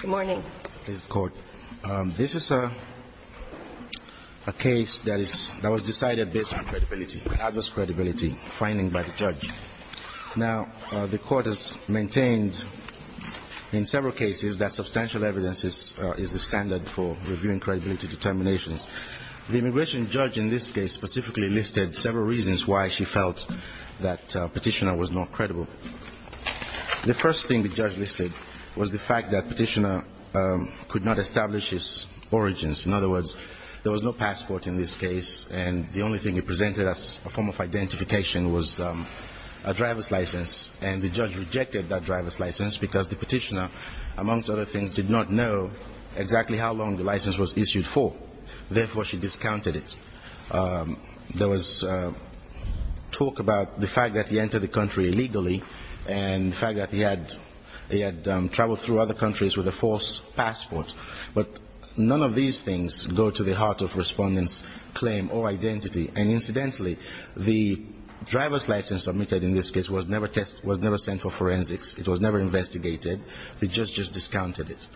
Good morning. This is a case that was decided based on adverse credibility finding by the judge. Now, the court has maintained in several cases that substantial evidence is the standard for reviewing credibility determinations. The immigration judge in this case specifically listed several reasons why she felt that the petitioner was not credible. The first thing the judge listed was the fact that the petitioner could not establish his origins. In other words, there was no passport in this case, and the only thing he presented as a form of identification was a driver's license. And the judge rejected that driver's license because the petitioner, amongst other things, did not know exactly how long the license was issued for. Therefore, she discounted it. There was talk about the fact that he had traveled through other countries with a false passport, but none of these things go to the heart of respondents' claim or identity. And incidentally, the driver's license submitted in this case was never sent for forensics. It was never investigated. The judge just discounted it.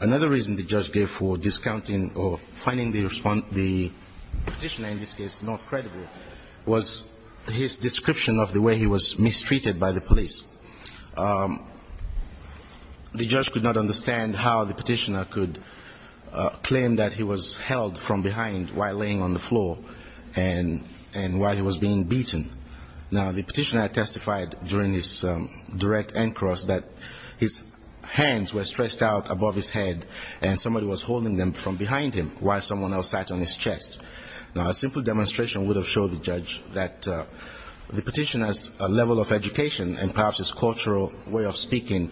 Another reason the judge gave for discounting or finding the petitioner in this case not credible was his description of the way he was mistreated by the police. The judge could not understand how the petitioner could claim that he was held from behind while laying on the floor and while he was being beaten. Now, the petitioner testified during his direct encross that his hands were stretched out above his head and somebody was holding them from behind him while someone else sat on his chest. Now, a simple demonstration would have showed the judge that the petitioner's level of education and perhaps his cultural way of speaking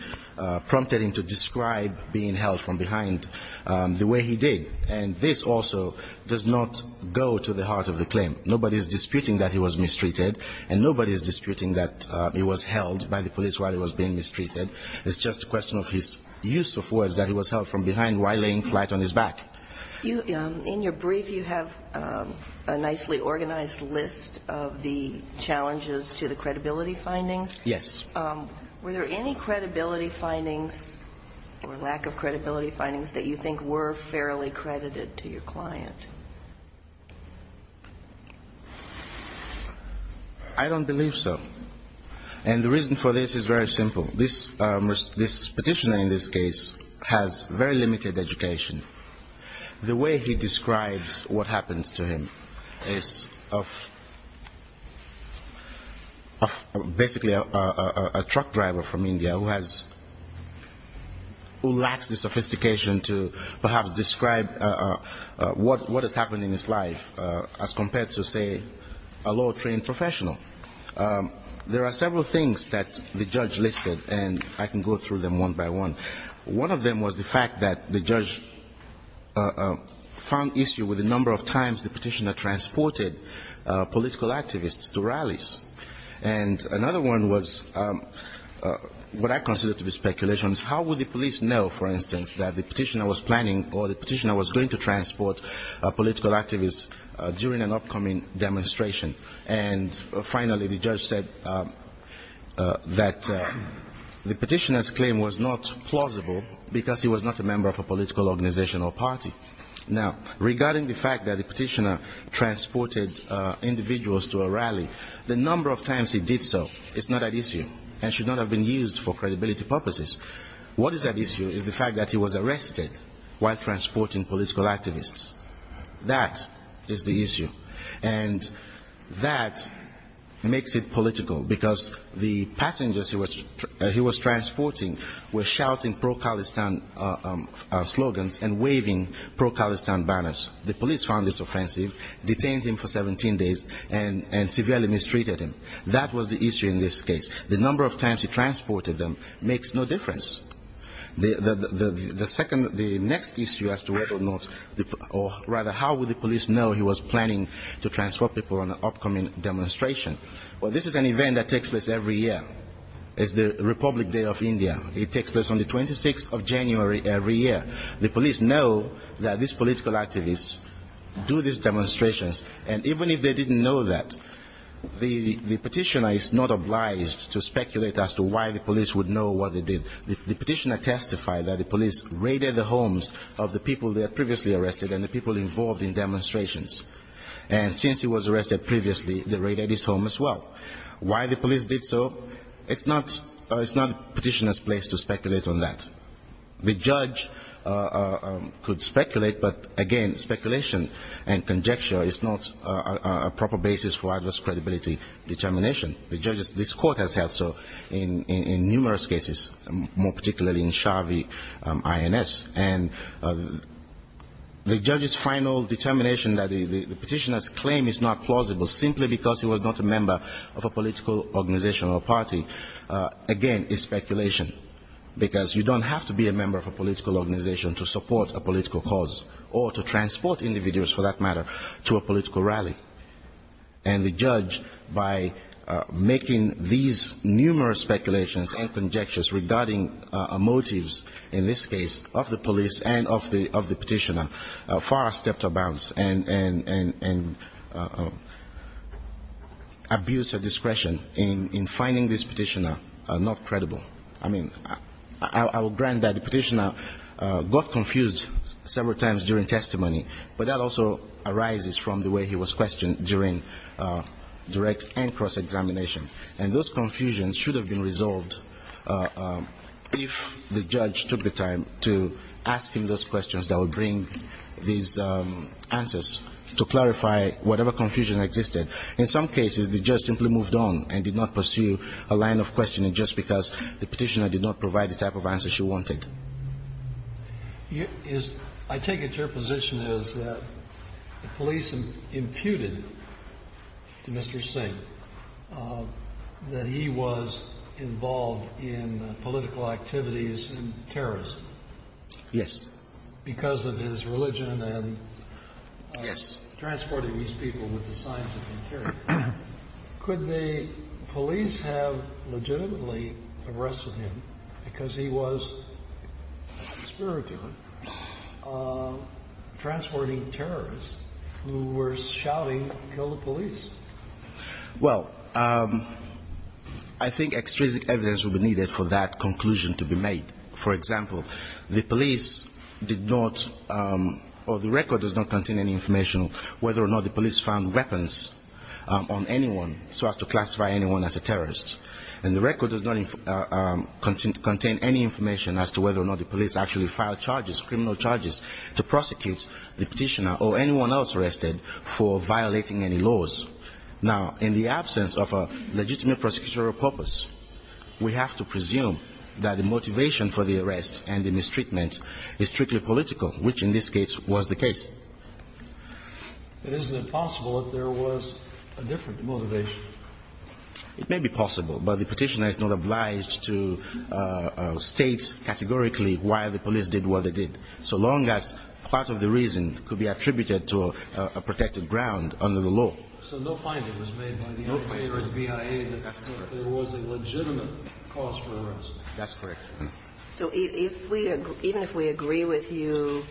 prompted him to describe being held from behind the way he did. And this also does not go to the heart of the claim. Nobody is disputing that he was mistreated and nobody is disputing that he was held by the police while he was being mistreated. It's just a question of his use of words that he was held from behind while laying flight on his back. MS. NELSON-FONTENOTE In your brief, you have a nicely organized list of the challenges to the credibility findings. MR. BOUTROUS Yes. MS. NELSON-FONTENOTE Were there any credibility findings or lack of credibility findings that you think were fairly credited to your client? MR. BOUTROUS I don't believe so. And the reason for this is very simple. This petitioner in this case has very limited education. The way he describes what happens to him is of basically a truck driver from India who lacks the sophistication to perhaps describe what has happened in his life as compared to, say, a law trained professional. There are several things that the judge listed and I can go through them one by one. One of them was the fact that the judge found issue with the number of times the petitioner transported political activists to rallies. And another one was what I consider to be speculation is how would the police know, for instance, that the petitioner was planning or the petitioner was going to transport political activists during an upcoming demonstration. And finally, the judge said that the petitioner's claim was not plausible because he was not a member of a political organization or party. Now, regarding the fact that the petitioner transported individuals to a rally, the number of times he did so is not at issue and should not have been used for credibility purposes. What is at issue is the fact that he was arrested while transporting political activists. That is the issue. And that makes it political because the passengers he was transporting were shouting pro-Khalistan slogans and waving pro-Khalistan banners. The police found this offensive, detained him for 17 days, and severely mistreated him. That was the issue in this case. The number of times he transported them makes no difference. The next issue as to whether or not or rather how would the police know he was planning to transport people on an upcoming demonstration. Well, this is an event that takes place every year. It's the Republic Day of India. It takes place on the 26th of January every year. The police know that these political activists do these demonstrations and even if they didn't know that, the petitioner is not obliged to speculate as to why the did. The petitioner testified that the police raided the homes of the people they had previously arrested and the people involved in demonstrations. And since he was arrested previously, they raided his home as well. Why the police did so, it's not the petitioner's place to speculate on that. The judge could speculate, but again, speculation and conjecture is not a proper basis for adverse credibility determination. The judges, this court has had so in numerous cases, more particularly in Shavi INS. And the judge's final determination that the petitioner's claim is not plausible simply because he was not a member of a political organization or party, again, is speculation. Because you don't have to be a member of a political organization to support a political cause or to transport individuals, for that matter, to a political rally. And the judge, by making these numerous speculations and conjectures regarding motives, in this case, of the police and of the petitioner, far stepped about and abused her discretion in finding this petitioner not credible. I mean, I will grant that the petitioner got confused several times during testimony, but that also arises from the way he was questioned during direct and cross-examination. And those confusions should have been resolved if the judge took the time to ask him those questions that would bring these answers to clarify whatever confusion existed. In some cases, the judge simply moved on and did not pursue a line of questioning just because the petitioner did not provide the type of answer she wanted. I take it your position is that the police imputed to Mr. Singh that he was involved in political activities and terrorism. Yes. Because of his religion and transporting these people with the signs of incarceration, could the police have legitimately arrested him because he was spiritually transporting terrorists who were shouting, kill the police? Well, I think extrinsic evidence will be needed for that conclusion to be made. For example, the police did not or the record does not contain any information whether or not the police found weapons on anyone so as to classify anyone as a terrorist. And the record does not contain any information as to whether or not the police actually filed charges, criminal charges, to prosecute the petitioner or anyone else arrested for violating any laws. Now, in the absence of a legitimate prosecutorial purpose, we have to presume that the motivation for the arrest and the mistreatment is strictly political, which in this case was the case. But isn't it possible that there was a different motivation? It may be possible, but the petitioner is not obliged to state categorically why the police did what they did, so long as part of the reason could be attributed to a protected ground under the law. So no finding was made by the NSA or the BIA that there was a legitimate motive. That's correct. So even if we agree with you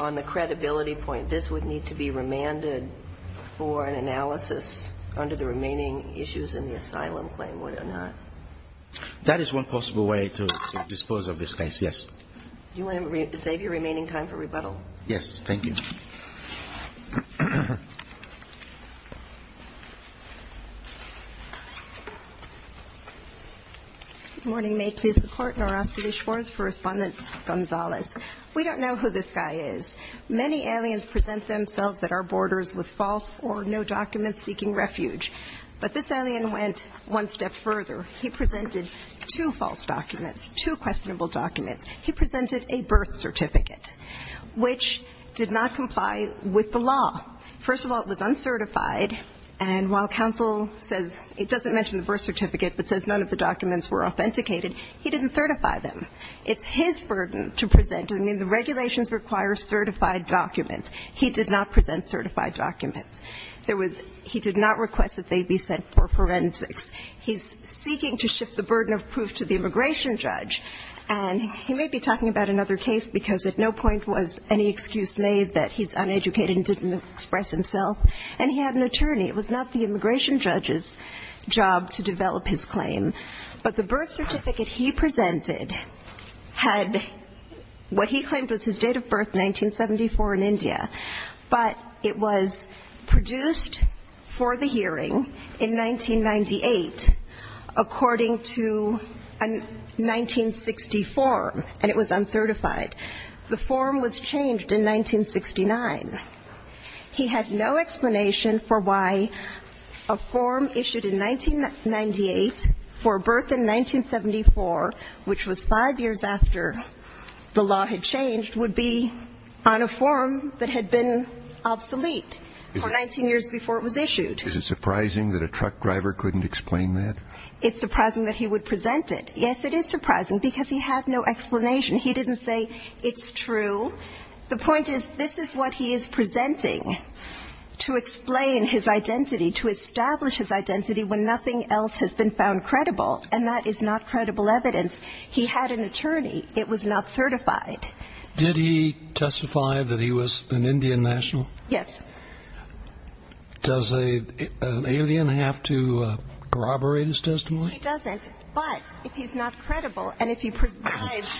on the credibility point, this would need to be remanded for an analysis under the remaining issues in the asylum claim, would it not? That is one possible way to dispose of this case, yes. Do you want to save your remaining time for rebuttal? Yes, thank you. Good morning. May it please the Court. Noroski Deschores for Respondent Gonzalez. We don't know who this guy is. Many aliens present themselves at our borders with false or no documents seeking refuge. But this alien went one step further. He presented two false documents, two questionable documents. He presented a birth certificate, which did not comply with the law. First of all, it was uncertified. And while counsel says it doesn't mention the birth certificate, but says none of the documents were authenticated, he didn't certify them. It's his burden to present. I mean, the regulations require certified documents. He did not present certified documents. There was he did not request that they be sent for forensics. He's seeking to shift the burden of proof to the immigration judge. And he may be talking about another case, because at no point was any excuse made that he's uneducated and didn't express himself. And he had an attorney. It was not the immigration judge's job to develop his claim. But the birth certificate he presented had what he claimed was his date of birth, 1974, in India. But it was produced for the hearing in 1998 according to a 1960 form. And it was uncertified. The form was changed in 1969. He had no explanation for why a form issued in 1998 for birth in 1974, which was five years after the law had changed, would be on a form that had been obsolete for 19 years before it was issued. It's surprising that he would present it. Yes, it is surprising, because he had no explanation. He didn't say it's true. The point is, this is what he is presenting to explain his identity, to establish his identity when nothing else has been found credible. And that is not credible evidence. He had an attorney. It was not certified. Did he testify that he was an Indian national? Yes. Does an alien have to corroborate his testimony? He doesn't. But if he's not credible and if he provides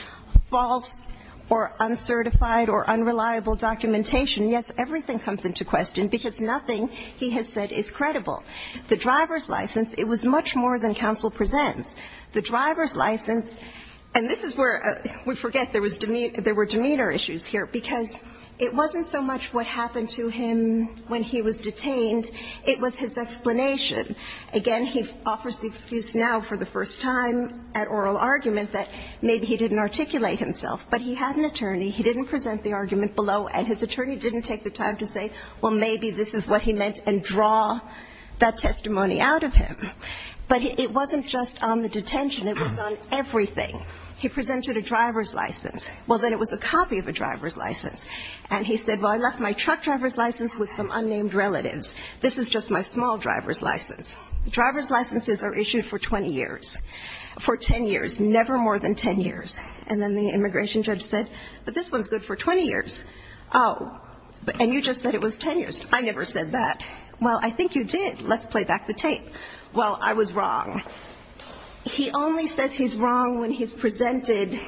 false or uncertified or unreliable documentation, yes, everything comes into question, because nothing he has said is credible. The driver's license, it was much more than counsel presents. The driver's license, and this is where we forget there was demeanor issues here, because it wasn't so much what happened to him when he was detained, it was his explanation. Again, he offers the excuse now for the first time at oral argument that maybe he didn't present and draw that testimony out of him. But it wasn't just on the detention. It was on everything. He presented a driver's license. Well, then it was a copy of a driver's license. And he said, well, I left my truck driver's license with some unnamed relatives. This is just my small driver's license. The driver's licenses are issued for 20 years, for 10 years, never more than 10 years. And then the immigration judge said, but this one's good for 20 years. Oh, and you just said it was 10 years. I never said that. Well, I think you did. Let's play back the tape. Well, I was wrong. He only says he's wrong when he's presented,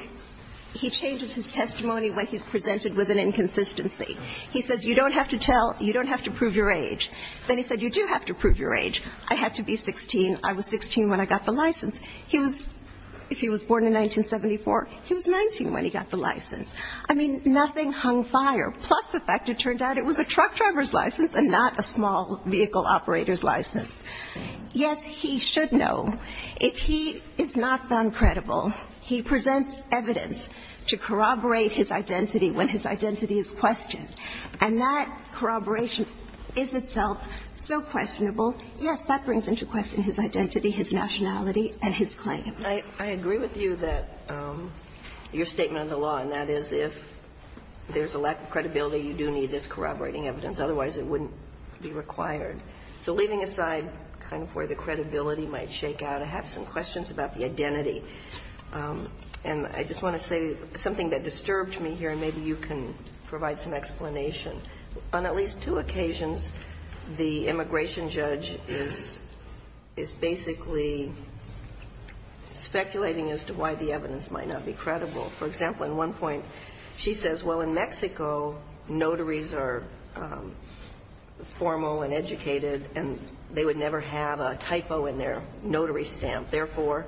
he changes his testimony when he's presented with an inconsistency. He says you don't have to tell, you don't have to prove your age. Then he said you do have to prove your age. I had to be 16. I was 16 when I got the license. He was, if he was born in 1974, he was 19 when he got the license. I mean, nothing hung fire. Plus the fact it turned out it was a truck driver's license and not a small vehicle operator's license. Yes, he should know. If he is not found credible, he presents evidence to corroborate his identity when his identity is questioned. And that corroboration is itself so I agree with you that your statement of the law, and that is if there's a lack of credibility, you do need this corroborating evidence. Otherwise, it wouldn't be required. So leaving aside kind of where the credibility might shake out, I have some questions about the identity. And I just want to say something that disturbed me here, and maybe you can provide some explanation. On at least two occasions, the immigration judge is basically speculating as to why the evidence might not be credible. For example, in one point she says, well, in Mexico, notaries are formal and educated, and they would never have a typo in their notary stamp. Therefore,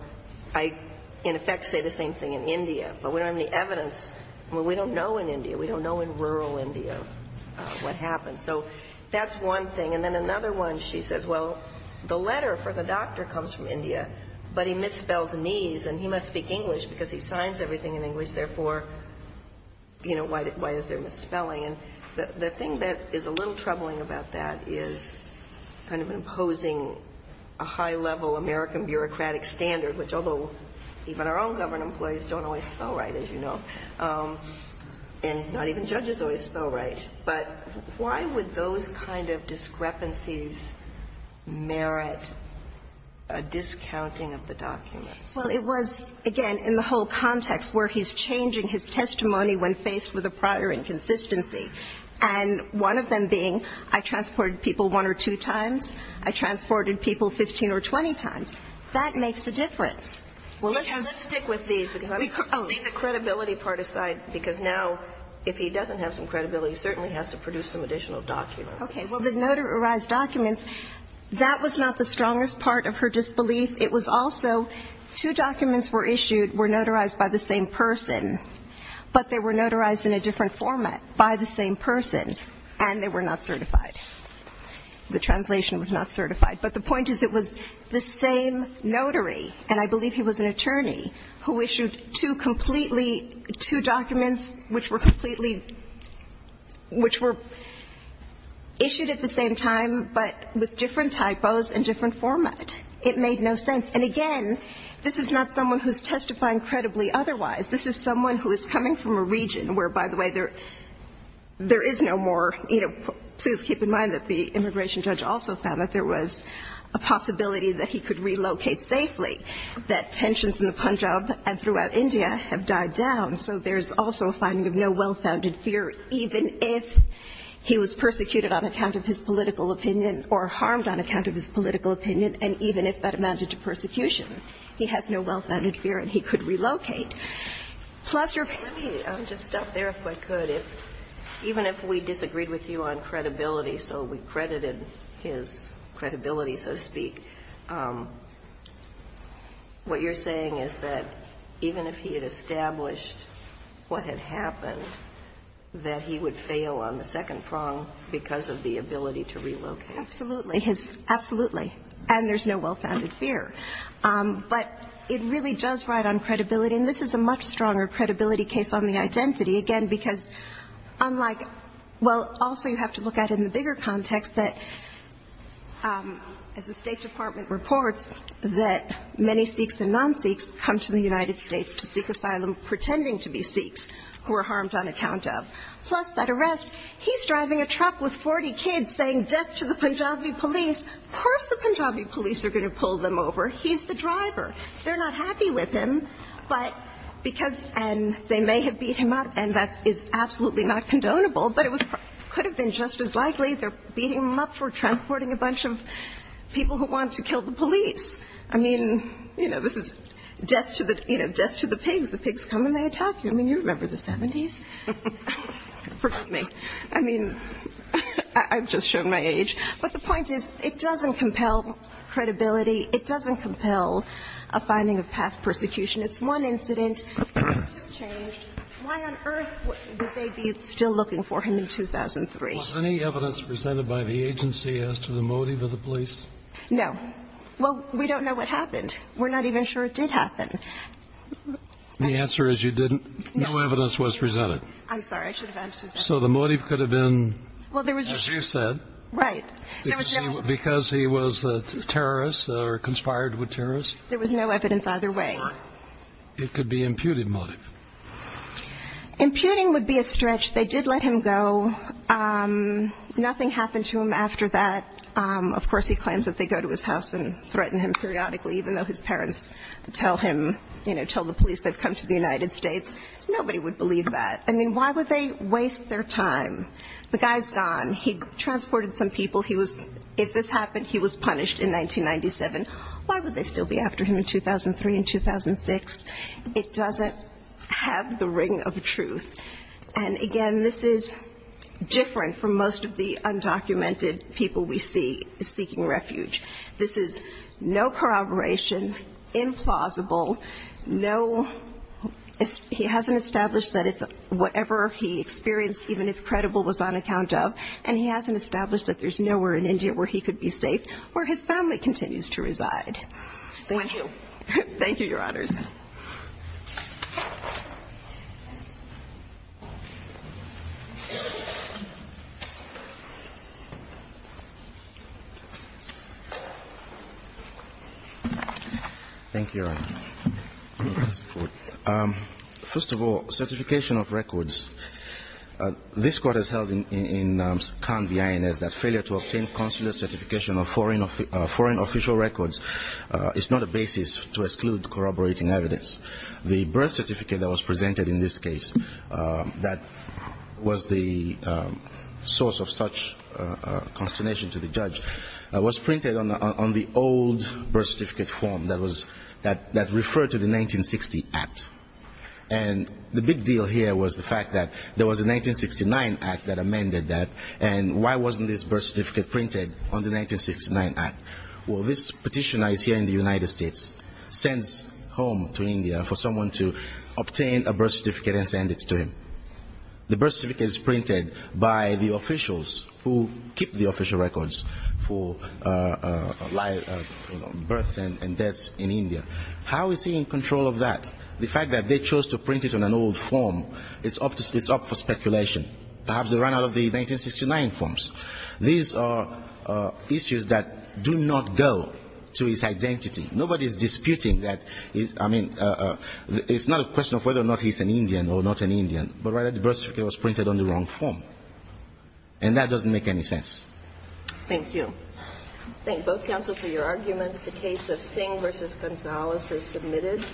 I in effect say the same thing in India. But we don't have any evidence. Well, we don't know in India. We don't know in rural India what happened. So that's one thing. And then another one, she says, well, the letter for the doctor comes from India, but he misspells knees, and he must speak English because he signs everything in English. Therefore, you know, why is there misspelling? And the thing that is a little troubling about that is kind of imposing a high-level American bureaucratic standard, which although even our own government employees don't always spell right, as you know, and not even judges always spell right. But why would those kind of discrepancies merit a discounting of the document? Well, it was, again, in the whole context where he's changing his testimony when faced with a prior inconsistency, and one of them being I transported people one or two times, I transported people 15 or 20 times. That makes a difference. Well, let's stick with these because I'm going to leave the credibility part aside because now if he doesn't have some credibility, he certainly has to produce some additional documents. Okay. Well, the notarized documents, that was not the strongest part of her disbelief. It was also two documents were issued, were notarized by the same person, but they were notarized in a different format by the same person, and they were not certified. The translation was not certified. But the point is it was the same notary, and I believe he was an attorney, who issued two completely, two documents which were completely, which were issued at the same time, but with different typos and different format. It made no sense. And again, this is not someone who's testifying credibly otherwise. This is someone who is coming from a region where, by the way, there is no more, you know, please keep in mind that the immigration judge also found that there was a possibility that he could relocate safely, that tensions in the Punjab and throughout India have died down, so there's also a finding of no well-founded fear even if he was persecuted on account of his political opinion or harmed on account of his political opinion, and even if that amounted to persecution. He has no well-founded fear, and he could relocate. Let me just stop there if I could. Even if we disagreed with you on credibility, so we credited his credibility, so to speak, what you're saying is that even if he had established what had happened, that he would fail on the second prong because of the ability to relocate. Absolutely. Absolutely. And there's no well-founded fear. But it really does ride on credibility, and this is a much stronger credibility case on the identity, again, because unlike, well, also you have to look at it in the bigger context that as the State Department reports that many Sikhs and non-Sikhs come to the United States to seek asylum pretending to be Sikhs who are harmed on account of, plus that arrest, he's driving a truck with 40 kids saying death to the pigs, the pigs come and they attack you. I mean, you remember the 70s. Forgive me. I mean, I've just shown my age. But the point is it doesn't compel credibility, it doesn't compel people to find out the truth, it doesn't compel a finding of past persecution. It's one incident, things have changed. Why on earth would they be still looking for him in 2003? Was any evidence presented by the agency as to the motive of the police? No. Well, we don't know what happened. We're not even sure it did happen. The answer is you didn't? No. No evidence was presented. I'm sorry. I should have answered that. So the motive could have been, as you said, because he was a terrorist or conspired with terrorists? There was no evidence either way. It could be imputed motive. Imputing would be a stretch. They did let him go. Nothing happened to him after that. Of course, he claims that they go to his house and threaten him periodically, even though his parents tell him, you know, tell the police they've come to the United States. Nobody would believe that. I mean, why would they waste their time? The guy's gone. He transported some people. If this happened, he was punished in 1997. Why would they still be after him in 2003 and 2006? It doesn't have the ring of truth. And, again, this is different from most of the undocumented people we see seeking refuge. This is no corroboration, implausible, no he hasn't established that it's safe, whatever he experienced, even if credible, was on account of, and he hasn't established that there's nowhere in India where he could be safe, where his family continues to reside. Thank you. Thank you, Your Honors. Thank you, Your Honor. First of all, certification of records. This court has held in Cannes, the INS, that failure to obtain consular certification of foreign official records is not a basis to exclude corroborating evidence. The birth certificate that was presented in this case that was the source of such consternation to the judge was printed on the old birth certificate form that referred to the 1960 Act. And the big deal here was the fact that there was a 1969 Act that amended that, and why wasn't this birth certificate printed on the 1969 Act? Well, this petitioner is here in the United States, sends home to India for someone to obtain a birth certificate and send it to him. The birth certificate is printed by the officials who keep the official records for births and deaths in India. How is he in control of that? The fact that they chose to print it on an old form is up for speculation. Perhaps they ran out of the 1969 forms. These are issues that do not go to his identity. Nobody is disputing that. I mean, it's not a question of whether or not he's an Indian or not an Indian, but rather the birth certificate was printed on the wrong form. And that doesn't make any sense. Thank you. Thank both counsel for your arguments. The case of Singh v. Gonzalez is submitted.